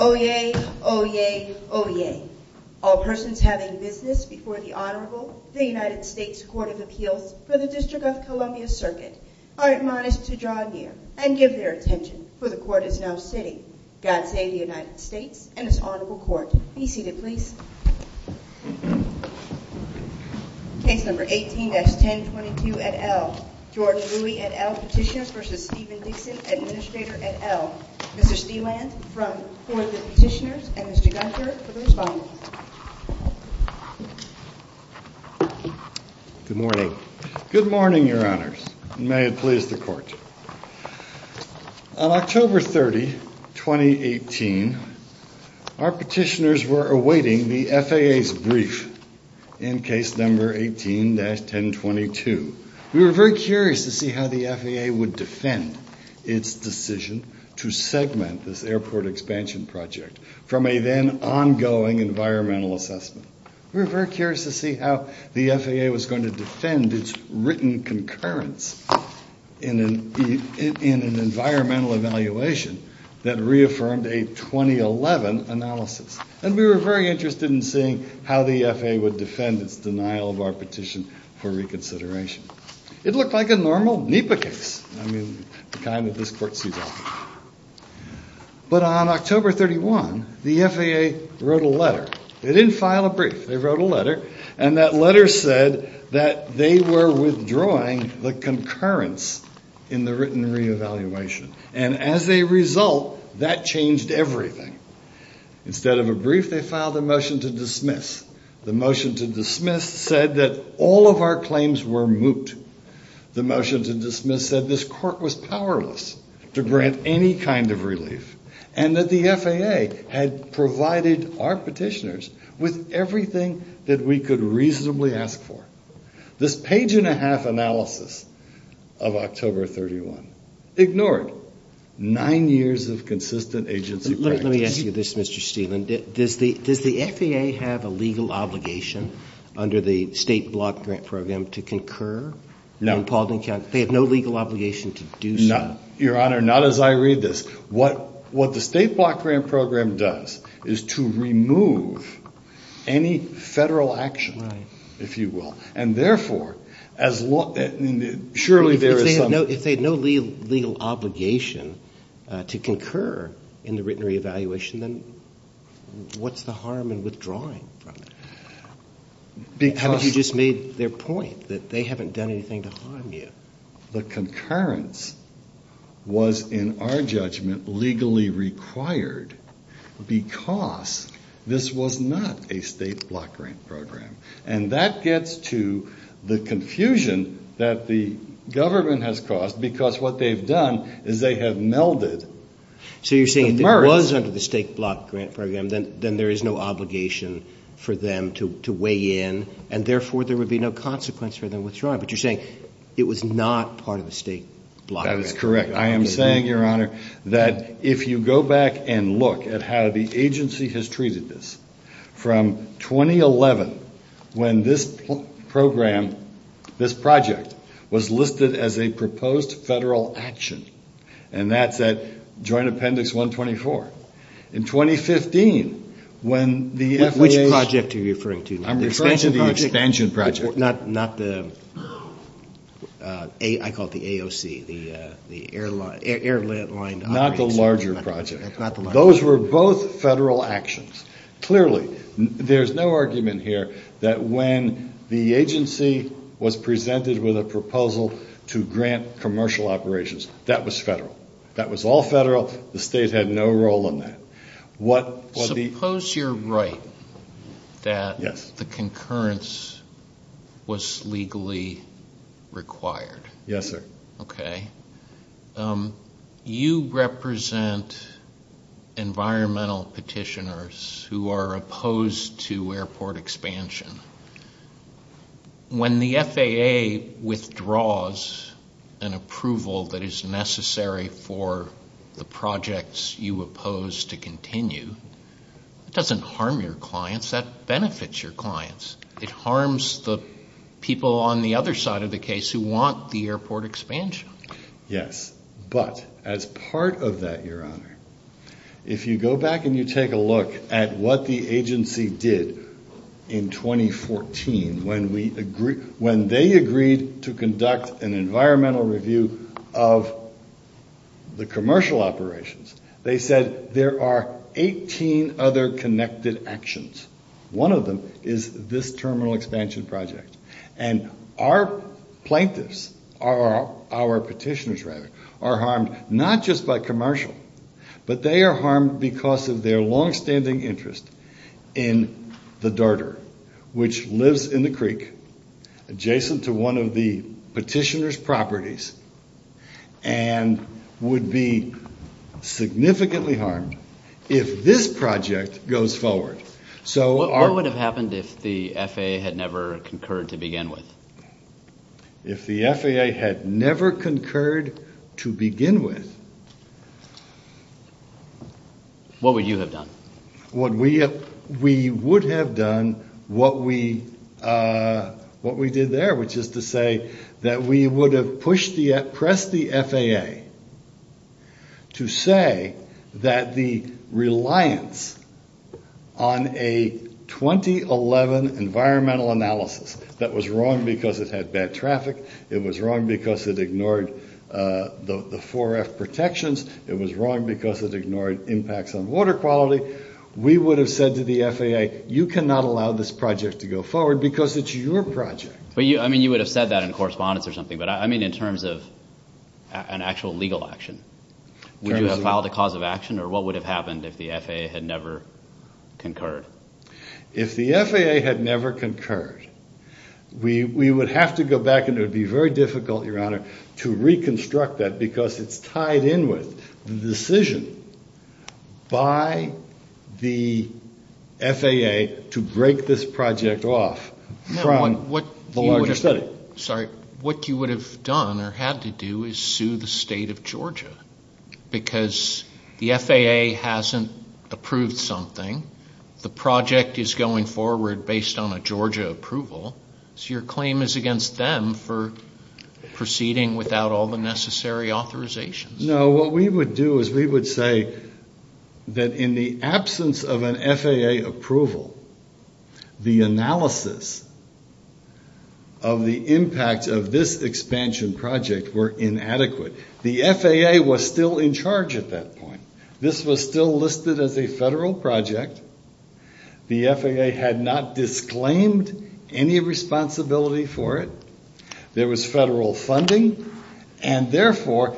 Oyez, oyez, oyez. All persons having business before the Honorable, the United States Court of Appeals for the District of Columbia Circuit, are admonished to draw near and give their attention, for the Court is now sitting. God save the United States and its Honorable Court. Be seated, please. Case number 18-1022 et al., George Louie et al. Petitioners v. Stephen Dickson, Administrator et al. Mr. Steland for the Petitioners and Mr. Gunther for the Respondents. Good morning. Good morning, Your Honors, and may it please the Court. On October 30, 2018, our petitioners were awaiting the FAA's brief in case number 18-1022. We were very curious to see how the FAA would defend its decision to segment this airport expansion project from a then-ongoing environmental assessment. We were very curious to see how the FAA was going to defend its written concurrence in an environmental evaluation that reaffirmed a 2011 analysis, and we were very interested in seeing how the FAA would defend its denial of our petition for reconsideration. It looked like a normal NEPA case, the kind that this Court sees often. But on October 31, the FAA wrote a letter to the State Department. They didn't file a brief. They wrote a letter, and that letter said that they were withdrawing the concurrence in the written re-evaluation. And as a result, that changed everything. Instead of a brief, they filed a motion to dismiss. The motion to dismiss said that all of our claims were moot. The motion to dismiss said this Court was powerless to grant any kind of relief, and that the FAA had provided our petitioners with a written re-evaluation. They provided our petitioners with everything that we could reasonably ask for. This page-and-a-half analysis of October 31 ignored nine years of consistent agency practice. Let me ask you this, Mr. Steele. Does the FAA have a legal obligation under the state block grant program to concur in Paulding County? They have no legal obligation to do so. Your Honor, not as I read this. What the state block grant program does is to remove any Federal action, if you will. And therefore, surely there is some... If they had no legal obligation to concur in the written re-evaluation, then what's the harm in withdrawing from it? Because... I mean, you just made their point that they haven't done anything to harm you. The concurrence was, in our judgment, legally required because this was not a state block grant program. And that gets to the confusion that the government has caused, because what they've done is they have melded the merits... So you're saying if it was under the state block grant program, then there is no obligation for them to weigh in, and therefore there would be no consequence for them withdrawing. But you're saying it was not part of the state block grant program. That is correct. I am saying, Your Honor, that if you go back and look at how the agency has treated this, from 2011, when this program, this project, was listed as a proposed Federal action, and that's at Joint Appendix 124. In 2015, when the FAA... Which project are you referring to? I'm referring to the expansion project. Not the... I call it the AOC, the airline... Not the larger project. Those were both Federal actions. Clearly, there's no argument here that when the agency was presented with a proposal to grant commercial operations, that was Federal. That was all Federal. The state had no role in that. Suppose you're right that the concurrence was legally required. Yes, sir. Okay. You represent environmental petitioners who are opposed to airport expansion. When the FAA withdraws an approval that is necessary for the projects you oppose to continue, it doesn't harm your clients. That benefits your clients. It harms the people on the other side of the case who want the airport expansion. Yes. But as part of that, Your Honor, if you go back and you take a look at what the agency did in 2014 when they agreed to conduct an environmental review of the commercial operations, they said there are 18 other connected actions. One of them is this terminal expansion project. Our plaintiffs, our petitioners, rather, are harmed not just by commercial, but they are harmed because of their longstanding interest in the dirter, which lives in the creek adjacent to one of the petitioner's properties and would be significantly harmed if this project goes forward. What would have happened if the FAA had never concurred to begin with? If the FAA had never concurred to begin with… What would you have done? We would have done what we did there, which is to say that we would have pressed the FAA to say that the reliance on a 2011 environmental analysis that was wrong because it had bad traffic, it was wrong because it ignored the 4F protections, it was wrong because it ignored impacts on water quality. We would have said to the FAA, you cannot allow this project to go forward because it's your project. I mean, you would have said that in correspondence or something, but I mean in terms of an actual legal action. Would you have filed a cause of action, or what would have happened if the FAA had never concurred? If the FAA had never concurred, we would have to go back and it would be very difficult, Your Honor, to reconstruct that because it's tied in with the decision by the FAA to break this project off from the larger study. What you would have done or had to do is sue the state of Georgia because the FAA hasn't approved something. The project is going forward based on a Georgia approval, so your claim is against them for proceeding without all the necessary authorizations. No, what we would do is we would say that in the absence of an FAA approval, the analysis of the impact of this expansion project were inadequate. The FAA was still in charge at that point. This was still listed as a federal project. The FAA had not disclaimed any responsibility for it. There was federal funding, and therefore—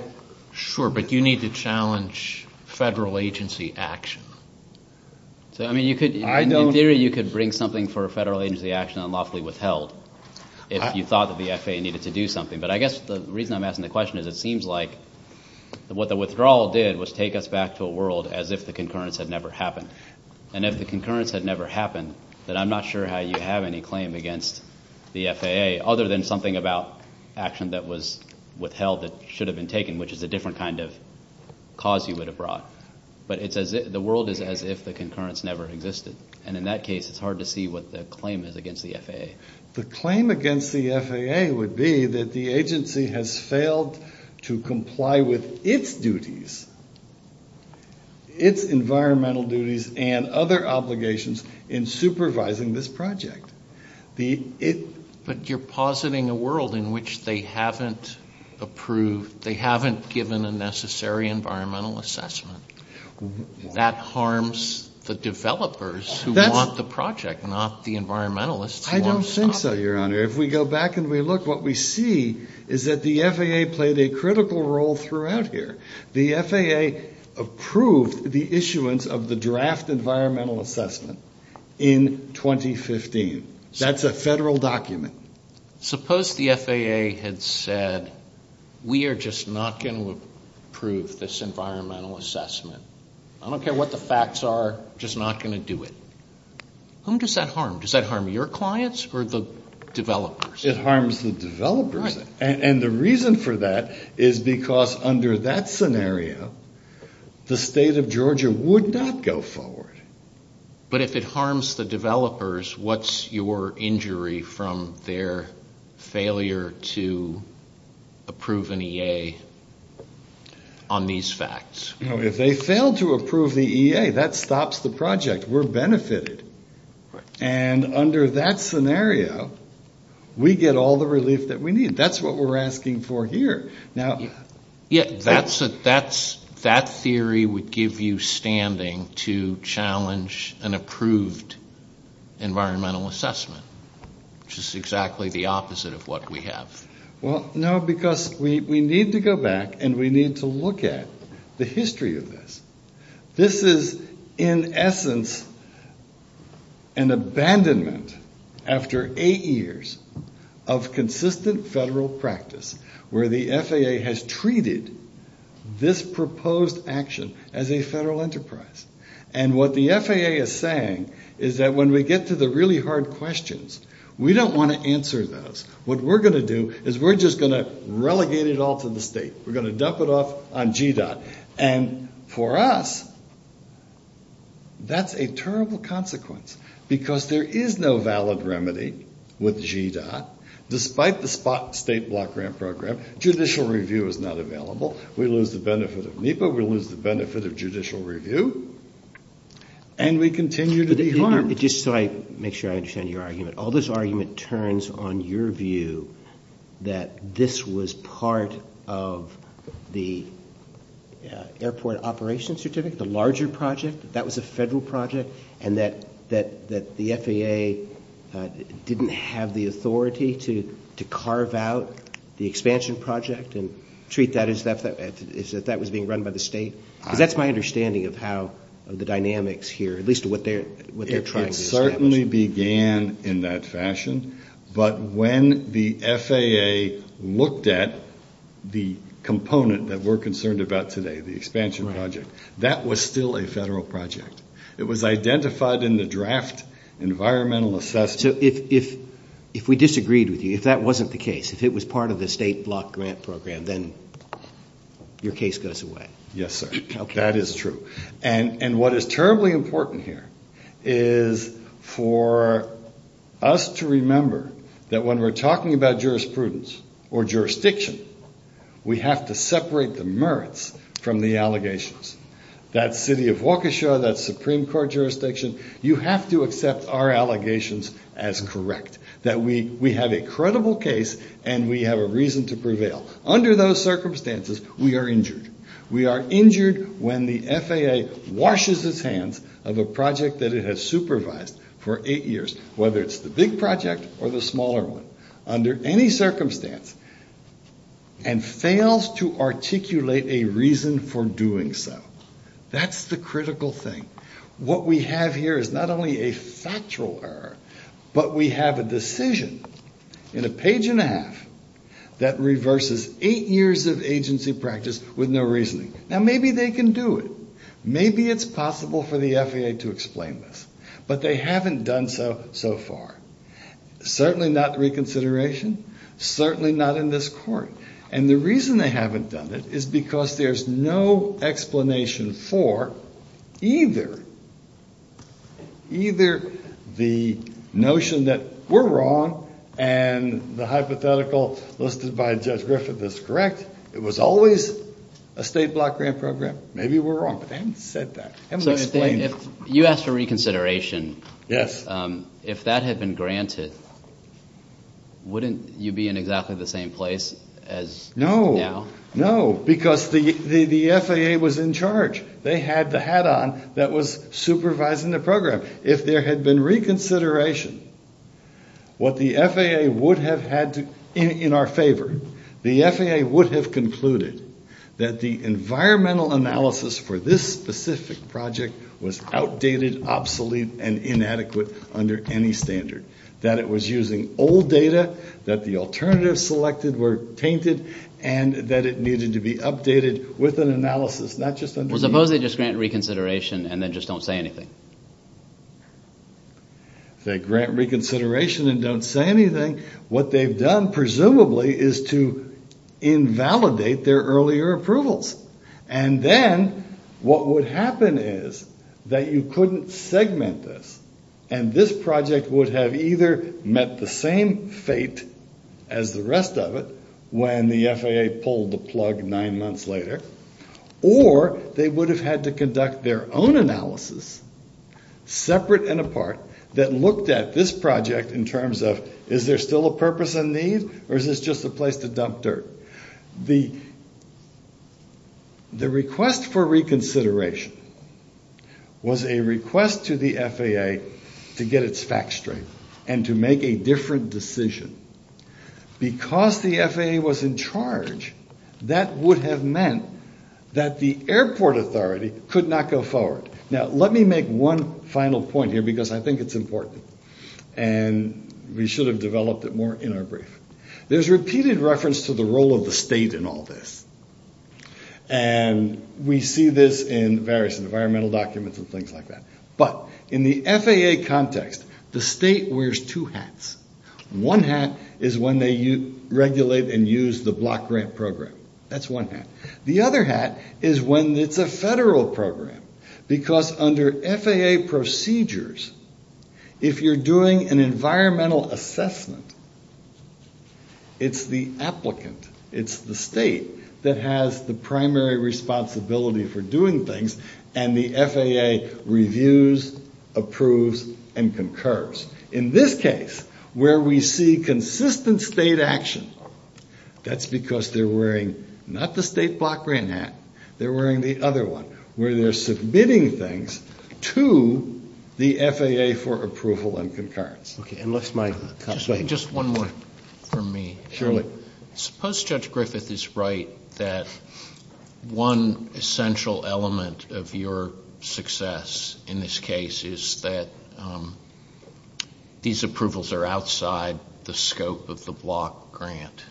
Sure, but you need to challenge federal agency action. I mean, in theory, you could bring something for a federal agency action unlawfully withheld if you thought that the FAA needed to do something, but I guess the reason I'm asking the question is it seems like what the withdrawal did was take us back to a world as if the concurrence had never happened. And if the concurrence had never happened, then I'm not sure how you have any claim against the FAA other than something about action that was withheld that should have been taken, which is a different kind of cause you would have brought. But the world is as if the concurrence never existed, and in that case, it's hard to see what the claim is against the FAA. The claim against the FAA would be that the agency has failed to comply with its duties, its environmental duties, and other obligations in supervising this project. But you're positing a world in which they haven't approved—they haven't given a necessary environmental assessment. That harms the developers who want the project, not the environmentalists who want to stop it. I don't think so, Your Honor. If we go back and we look, what we see is that the FAA played a critical role throughout here. The FAA approved the issuance of the draft environmental assessment in 2015. That's a federal document. Suppose the FAA had said, we are just not going to approve this environmental assessment. I don't care what the facts are. We're just not going to do it. Whom does that harm? Does that harm your clients or the developers? It harms the developers, and the reason for that is because under that scenario, the state of Georgia would not go forward. But if it harms the developers, what's your injury from their failure to approve an EA on these facts? If they fail to approve the EA, that stops the project. We're benefited. And under that scenario, we get all the relief that we need. That's what we're asking for here. Yeah, that theory would give you standing to challenge an approved environmental assessment, which is exactly the opposite of what we have. Well, no, because we need to go back and we need to look at the history of this. This is, in essence, an abandonment after eight years of consistent federal practice where the FAA has treated this proposed action as a federal enterprise. And what the FAA is saying is that when we get to the really hard questions, we don't want to answer those. What we're going to do is we're just going to relegate it all to the state. We're going to dump it off on GDOT. And for us, that's a terrible consequence because there is no valid remedy with GDOT. Despite the state block grant program, judicial review is not available. We lose the benefit of NEPA. We lose the benefit of judicial review. And we continue to be harmed. Just so I make sure I understand your argument, all this argument turns on your view that this was part of the airport operations certificate, the larger project? That that was a federal project and that the FAA didn't have the authority to carve out the expansion project and treat that as if that was being run by the state? Because that's my understanding of how the dynamics here, at least what they're trying to establish. It certainly began in that fashion. But when the FAA looked at the component that we're concerned about today, the expansion project, that was still a federal project. It was identified in the draft environmental assessment. So if we disagreed with you, if that wasn't the case, if it was part of the state block grant program, then your case goes away. Yes, sir. That is true. And what is terribly important here is for us to remember that when we're talking about jurisprudence or jurisdiction, we have to separate the merits from the allegations. That's city of Waukesha, that's Supreme Court jurisdiction. You have to accept our allegations as correct, that we have a credible case and we have a reason to prevail. Under those circumstances, we are injured. We are injured when the FAA washes its hands of a project that it has supervised for eight years, whether it's the big project or the smaller one, under any circumstance, and fails to articulate a reason for doing so. That's the critical thing. What we have here is not only a factual error, but we have a decision in a page and a half that reverses eight years of agency practice with no reasoning. Now, maybe they can do it. Maybe it's possible for the FAA to explain this. But they haven't done so so far. Certainly not reconsideration. Certainly not in this court. And the reason they haven't done it is because there's no explanation for either the notion that we're wrong and the hypothetical listed by Judge Griffith is correct. It was always a state block grant program. Maybe we're wrong. But they haven't said that. They haven't explained it. You asked for reconsideration. Yes. If that had been granted, wouldn't you be in exactly the same place as now? No. No, because the FAA was in charge. They had the hat on that was supervising the program. If there had been reconsideration, what the FAA would have had to do in our favor, the FAA would have concluded that the environmental analysis for this specific project was outdated, obsolete, and inadequate under any standard. That it was using old data, that the alternatives selected were tainted, and that it needed to be updated with an analysis, not just underneath. So suppose they just grant reconsideration and then just don't say anything. If they grant reconsideration and don't say anything, what they've done presumably is to invalidate their earlier approvals. And then what would happen is that you couldn't segment this, and this project would have either met the same fate as the rest of it when the FAA pulled the plug nine months later, or they would have had to conduct their own analysis, separate and apart, that looked at this project in terms of, is there still a purpose and need, or is this just a place to dump dirt? The request for reconsideration was a request to the FAA to get its facts straight and to make a different decision. Because the FAA was in charge, that would have meant that the airport authority could not go forward. Now, let me make one final point here because I think it's important, and we should have developed it more in our brief. There's repeated reference to the role of the state in all this, and we see this in various environmental documents and things like that. But in the FAA context, the state wears two hats. One hat is when they regulate and use the block grant program. That's one hat. The other hat is when it's a federal program, because under FAA procedures, if you're doing an environmental assessment, it's the applicant, it's the state, that has the primary responsibility for doing things, and the FAA reviews, approves, and concurs. In this case, where we see consistent state action, that's because they're wearing not the state block grant hat. They're wearing the other one, where they're submitting things to the FAA for approval and concurrence. Okay. Unless my colleague— Just one more from me. Surely. Suppose Judge Griffith is right that one essential element of your success in this case is that these approvals are outside the scope of the block grant.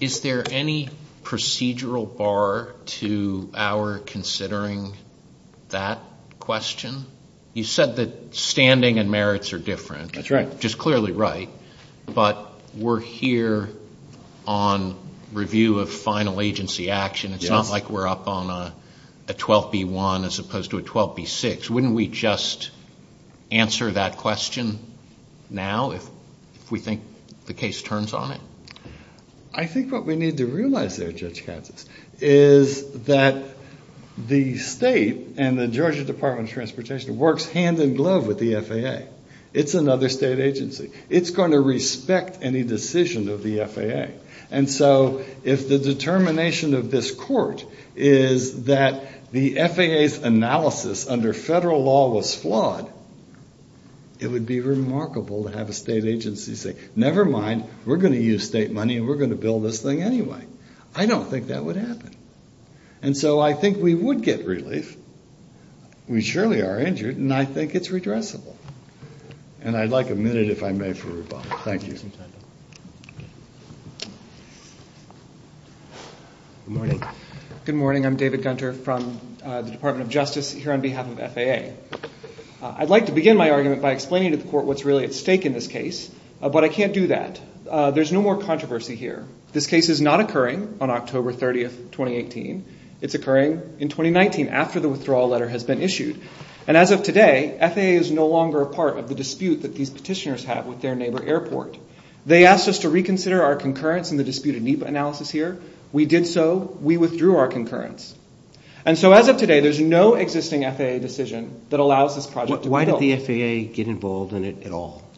Is there any procedural bar to our considering that question? You said that standing and merits are different. That's right. Just clearly right, but we're here on review of final agency action. It's not like we're up on a 12B1 as opposed to a 12B6. Wouldn't we just answer that question now if we think the case turns on it? I think what we need to realize there, Judge Katz, is that the state and the Georgia Department of Transportation works hand in glove with the FAA. It's another state agency. It's going to respect any decision of the FAA. And so if the determination of this court is that the FAA's analysis under federal law was flawed, it would be remarkable to have a state agency say, never mind, we're going to use state money and we're going to bill this thing anyway. I don't think that would happen. And so I think we would get relief. We surely are injured, and I think it's redressable. And I'd like a minute, if I may, for rebuttal. Thank you. Good morning. Good morning. I'm David Gunter from the Department of Justice here on behalf of FAA. I'd like to begin my argument by explaining to the court what's really at stake in this case, but I can't do that. There's no more controversy here. This case is not occurring on October 30, 2018. It's occurring in 2019, after the withdrawal letter has been issued. And as of today, FAA is no longer a part of the dispute that these petitioners have with their neighbor airport. They asked us to reconsider our concurrence in the dispute in NEPA analysis here. We did so. We withdrew our concurrence. And so as of today, there's no existing FAA decision that allows this project to be billed. Why did the FAA get involved in it at all,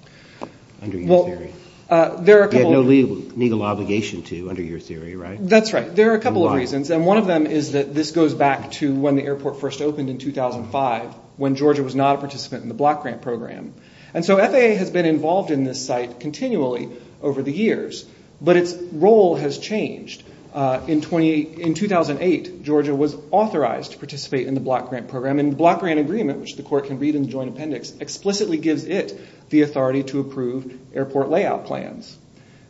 under your theory? Well, there are a couple of reasons. They had no legal obligation to, under your theory, right? That's right. There are a couple of reasons, and one of them is that this goes back to when the airport first opened in 2005, when Georgia was not a participant in the block grant program. And so FAA has been involved in this site continually over the years, but its role has changed. In 2008, Georgia was authorized to participate in the block grant program, and the block grant agreement, which the court can read in the joint appendix, explicitly gives it the authority to approve airport layout plans.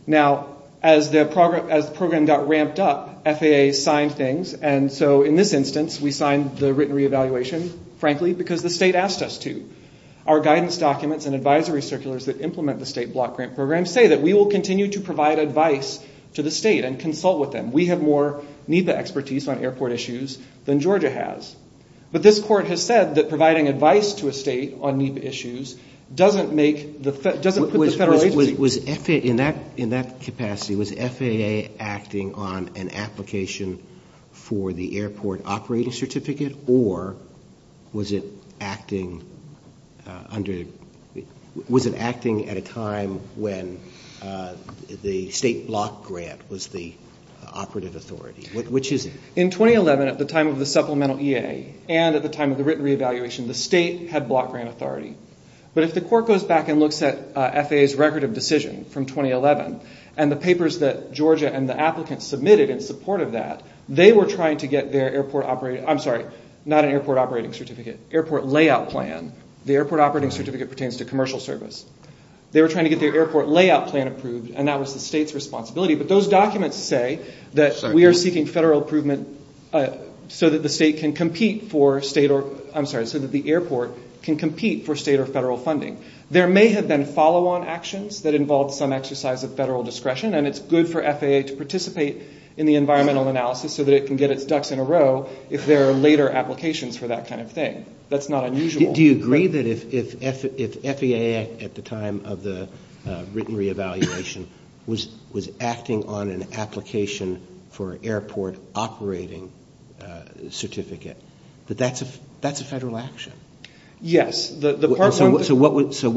Now, as the program got ramped up, FAA signed things. And so in this instance, we signed the written reevaluation, frankly, because the state asked us to. Our guidance documents and advisory circulars that implement the state block grant program say that we will continue to provide advice to the state and consult with them. We have more NEPA expertise on airport issues than Georgia has. But this court has said that providing advice to a state on NEPA issues doesn't put the federal agency at risk. In that capacity, was FAA acting on an application for the airport operating certificate, or was it acting at a time when the state block grant was the operative authority? Which is it? In 2011, at the time of the supplemental EA and at the time of the written reevaluation, the state had block grant authority. But if the court goes back and looks at FAA's record of decision from 2011 and the papers that Georgia and the applicants submitted in support of that, they were trying to get their airport operating certificate. I'm sorry, not an airport operating certificate, airport layout plan. The airport operating certificate pertains to commercial service. They were trying to get their airport layout plan approved, and that was the state's responsibility. But those documents say that we are seeking federal approval so that the airport can compete for state or federal funding. There may have been follow-on actions that involved some exercise of federal discretion, and it's good for FAA to participate in the environmental analysis so that it can get its ducks in a row if there are later applications for that kind of thing. That's not unusual. Do you agree that if FAA, at the time of the written reevaluation, was acting on an application for an airport operating certificate, that that's a federal action? Yes. So what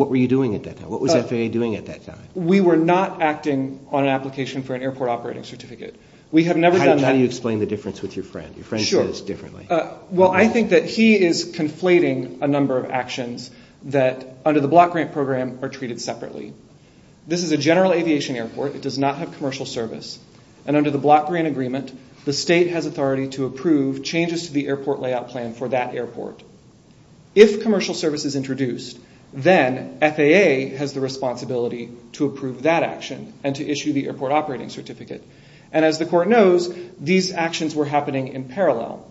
were you doing at that time? What was FAA doing at that time? We were not acting on an application for an airport operating certificate. How do you explain the difference with your friend? Your friend says differently. Well, I think that he is conflating a number of actions that, under the block grant program, are treated separately. This is a general aviation airport. It does not have commercial service, and under the block grant agreement, the state has authority to approve changes to the airport layout plan for that airport. If commercial service is introduced, then FAA has the responsibility to approve that action and to issue the airport operating certificate. As the court knows, these actions were happening in parallel.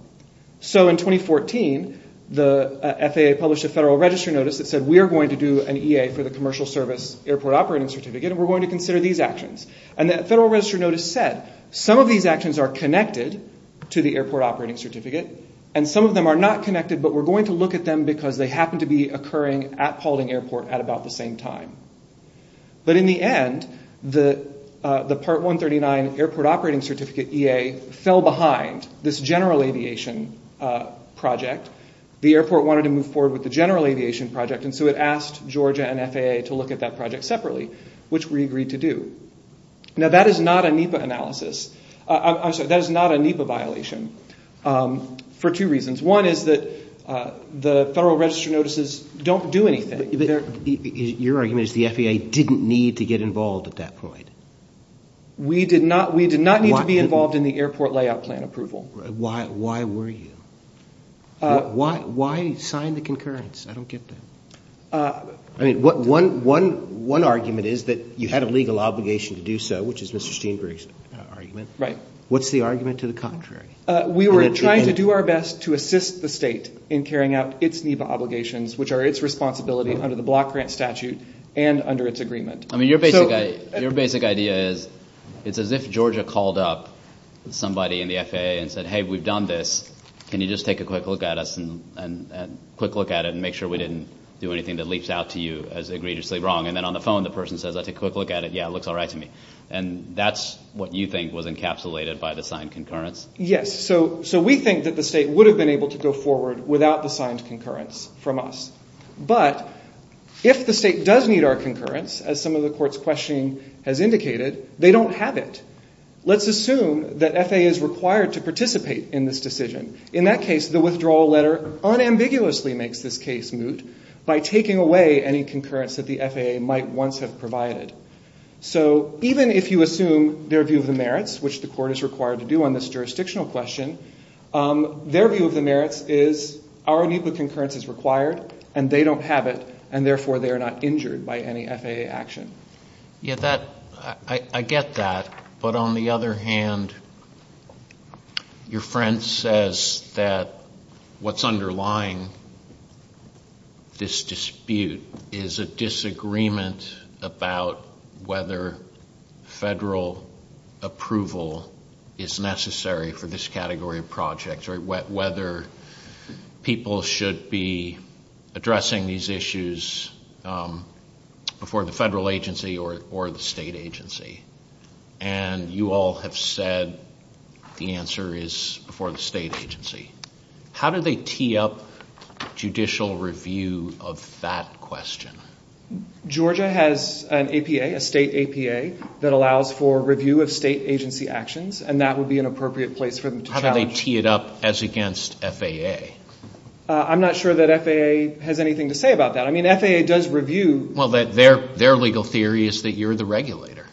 In 2014, the FAA published a Federal Register Notice that said, we are going to do an EA for the commercial service airport operating certificate, and we're going to consider these actions. The Federal Register Notice said, some of these actions are connected to the airport operating certificate, and some of them are not connected, but we're going to look at them because they happen to be occurring at Paulding Airport at about the same time. But in the end, the Part 139 Airport Operating Certificate EA fell behind this general aviation project. The airport wanted to move forward with the general aviation project, and so it asked Georgia and FAA to look at that project separately, which we agreed to do. Now, that is not a NEPA violation for two reasons. One is that the Federal Register Notices don't do anything. Your argument is the FAA didn't need to get involved at that point. We did not need to be involved in the airport layout plan approval. Why were you? Why sign the concurrence? I don't get that. One argument is that you had a legal obligation to do so, which is Mr. Steenberg's argument. What's the argument to the contrary? We were trying to do our best to assist the state in carrying out its NEPA obligations, which are its responsibility under the Block Grant Statute and under its agreement. I mean, your basic idea is it's as if Georgia called up somebody in the FAA and said, hey, we've done this, can you just take a quick look at us and quick look at it and make sure we didn't do anything that leaps out to you as egregiously wrong. And then on the phone, the person says, I took a quick look at it. Yeah, it looks all right to me. And that's what you think was encapsulated by the signed concurrence. Yes, so we think that the state would have been able to go forward without the signed concurrence from us. But if the state does need our concurrence, as some of the court's questioning has indicated, they don't have it. Let's assume that FAA is required to participate in this decision. In that case, the withdrawal letter unambiguously makes this case moot by taking away any concurrence that the FAA might once have provided. So even if you assume their view of the merits, which the court is required to do on this jurisdictional question, their view of the merits is our need for concurrence is required and they don't have it, and therefore they are not injured by any FAA action. Yeah, I get that. But on the other hand, your friend says that what's underlying this dispute is a disagreement about whether federal approval is necessary for this category of projects or whether people should be addressing these issues before the federal agency or the state agency. And you all have said the answer is before the state agency. How do they tee up judicial review of that question? Georgia has an APA, a state APA, that allows for review of state agency actions, and that would be an appropriate place for them to challenge. How do they tee it up as against FAA? I'm not sure that FAA has anything to say about that. I mean, FAA does review. Well, their legal theory is that you're the regulator.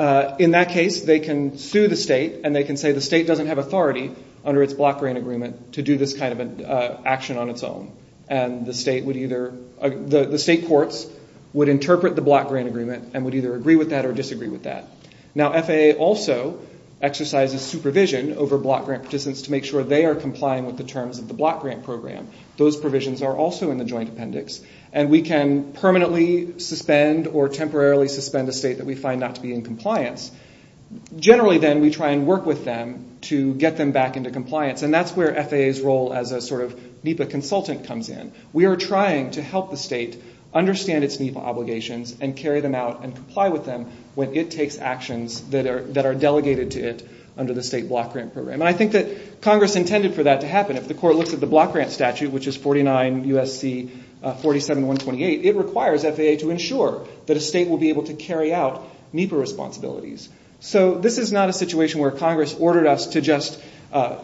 In that case, they can sue the state and they can say the state doesn't have authority under its block grant agreement to do this kind of action on its own, and the state courts would interpret the block grant agreement and would either agree with that or disagree with that. Now, FAA also exercises supervision over block grant participants to make sure they are complying with the terms of the block grant program. Those provisions are also in the joint appendix, and we can permanently suspend or temporarily suspend a state that we find not to be in compliance. Generally, then, we try and work with them to get them back into compliance, and that's where FAA's role as a sort of NEPA consultant comes in. We are trying to help the state understand its NEPA obligations and carry them out and comply with them when it takes actions that are delegated to it under the state block grant program, and I think that Congress intended for that to happen. If the court looks at the block grant statute, which is 49 U.S.C. 47128, it requires FAA to ensure that a state will be able to carry out NEPA responsibilities. So this is not a situation where Congress ordered us to just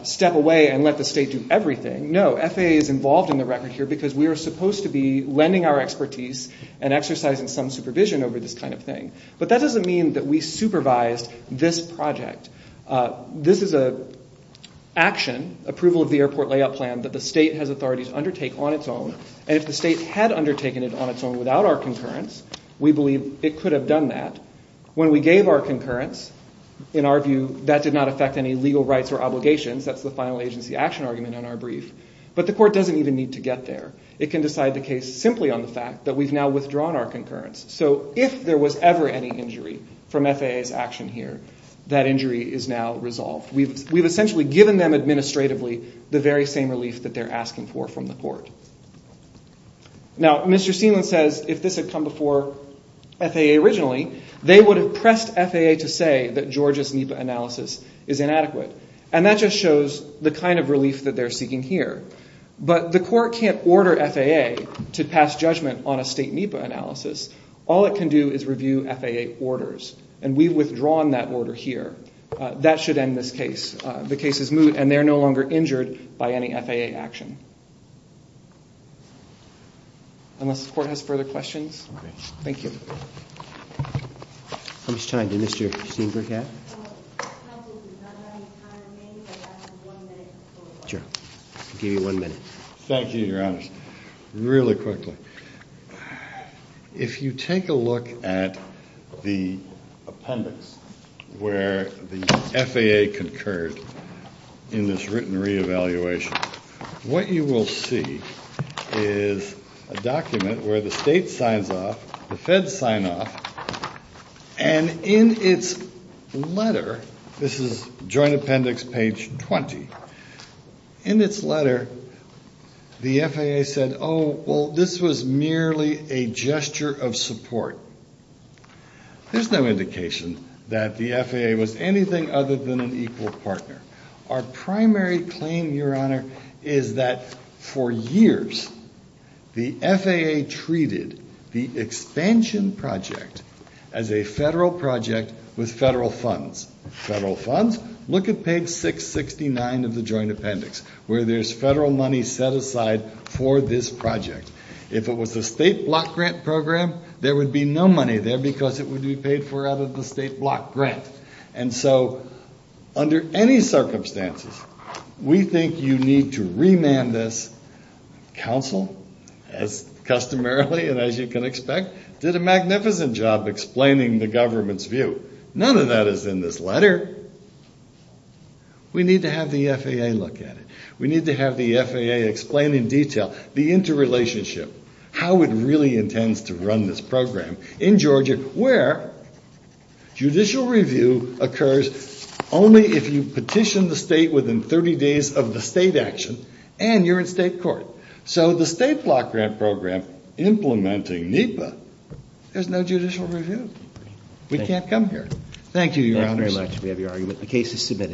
step away and let the state do everything. No, FAA is involved in the record here because we are supposed to be lending our expertise and exercising some supervision over this kind of thing, but that doesn't mean that we supervised this project. This is an action, approval of the airport layout plan, that the state has authorities undertake on its own, and if the state had undertaken it on its own without our concurrence, we believe it could have done that. When we gave our concurrence, in our view, that did not affect any legal rights or obligations. That's the final agency action argument in our brief. But the court doesn't even need to get there. It can decide the case simply on the fact that we've now withdrawn our concurrence. So if there was ever any injury from FAA's action here, that injury is now resolved. We've essentially given them administratively the very same relief that they're asking for from the court. Now, Mr. Seeland says if this had come before FAA originally, they would have pressed FAA to say that Georgia's NEPA analysis is inadequate, and that just shows the kind of relief that they're seeking here. But the court can't order FAA to pass judgment on a state NEPA analysis. All it can do is review FAA orders, and we've withdrawn that order here. That should end this case. The case is moot, and they're no longer injured by any FAA action. Unless the court has further questions? Okay. Thank you. How much time? Did Mr. Steenberg have? Counsel, we don't have any time. Maybe if I could have one minute. Sure. I'll give you one minute. Thank you, Your Honor. Really quickly. If you take a look at the appendix where the FAA concurred in this written reevaluation, what you will see is a document where the state signs off, the feds sign off, and in its letter, this is joint appendix page 20, in its letter, the FAA said, oh, well, this was merely a gesture of support. There's no indication that the FAA was anything other than an equal partner. Our primary claim, Your Honor, is that for years, the FAA treated the expansion project as a federal project with federal funds. Federal funds? Look at page 669 of the joint appendix where there's federal money set aside for this project. If it was a state block grant program, there would be no money there because it would be paid for out of the state block grant. And so under any circumstances, we think you need to remand this. Counsel, as customarily and as you can expect, did a magnificent job explaining the government's view. None of that is in this letter. We need to have the FAA look at it. We need to have the FAA explain in detail the interrelationship, how it really intends to run this program in Georgia, where judicial review occurs only if you petition the state within 30 days of the state action, and you're in state court. So the state block grant program implementing NEPA, there's no judicial review. We can't come here. Thank you, Your Honor. Thank you very much. We have your argument. The case is submitted.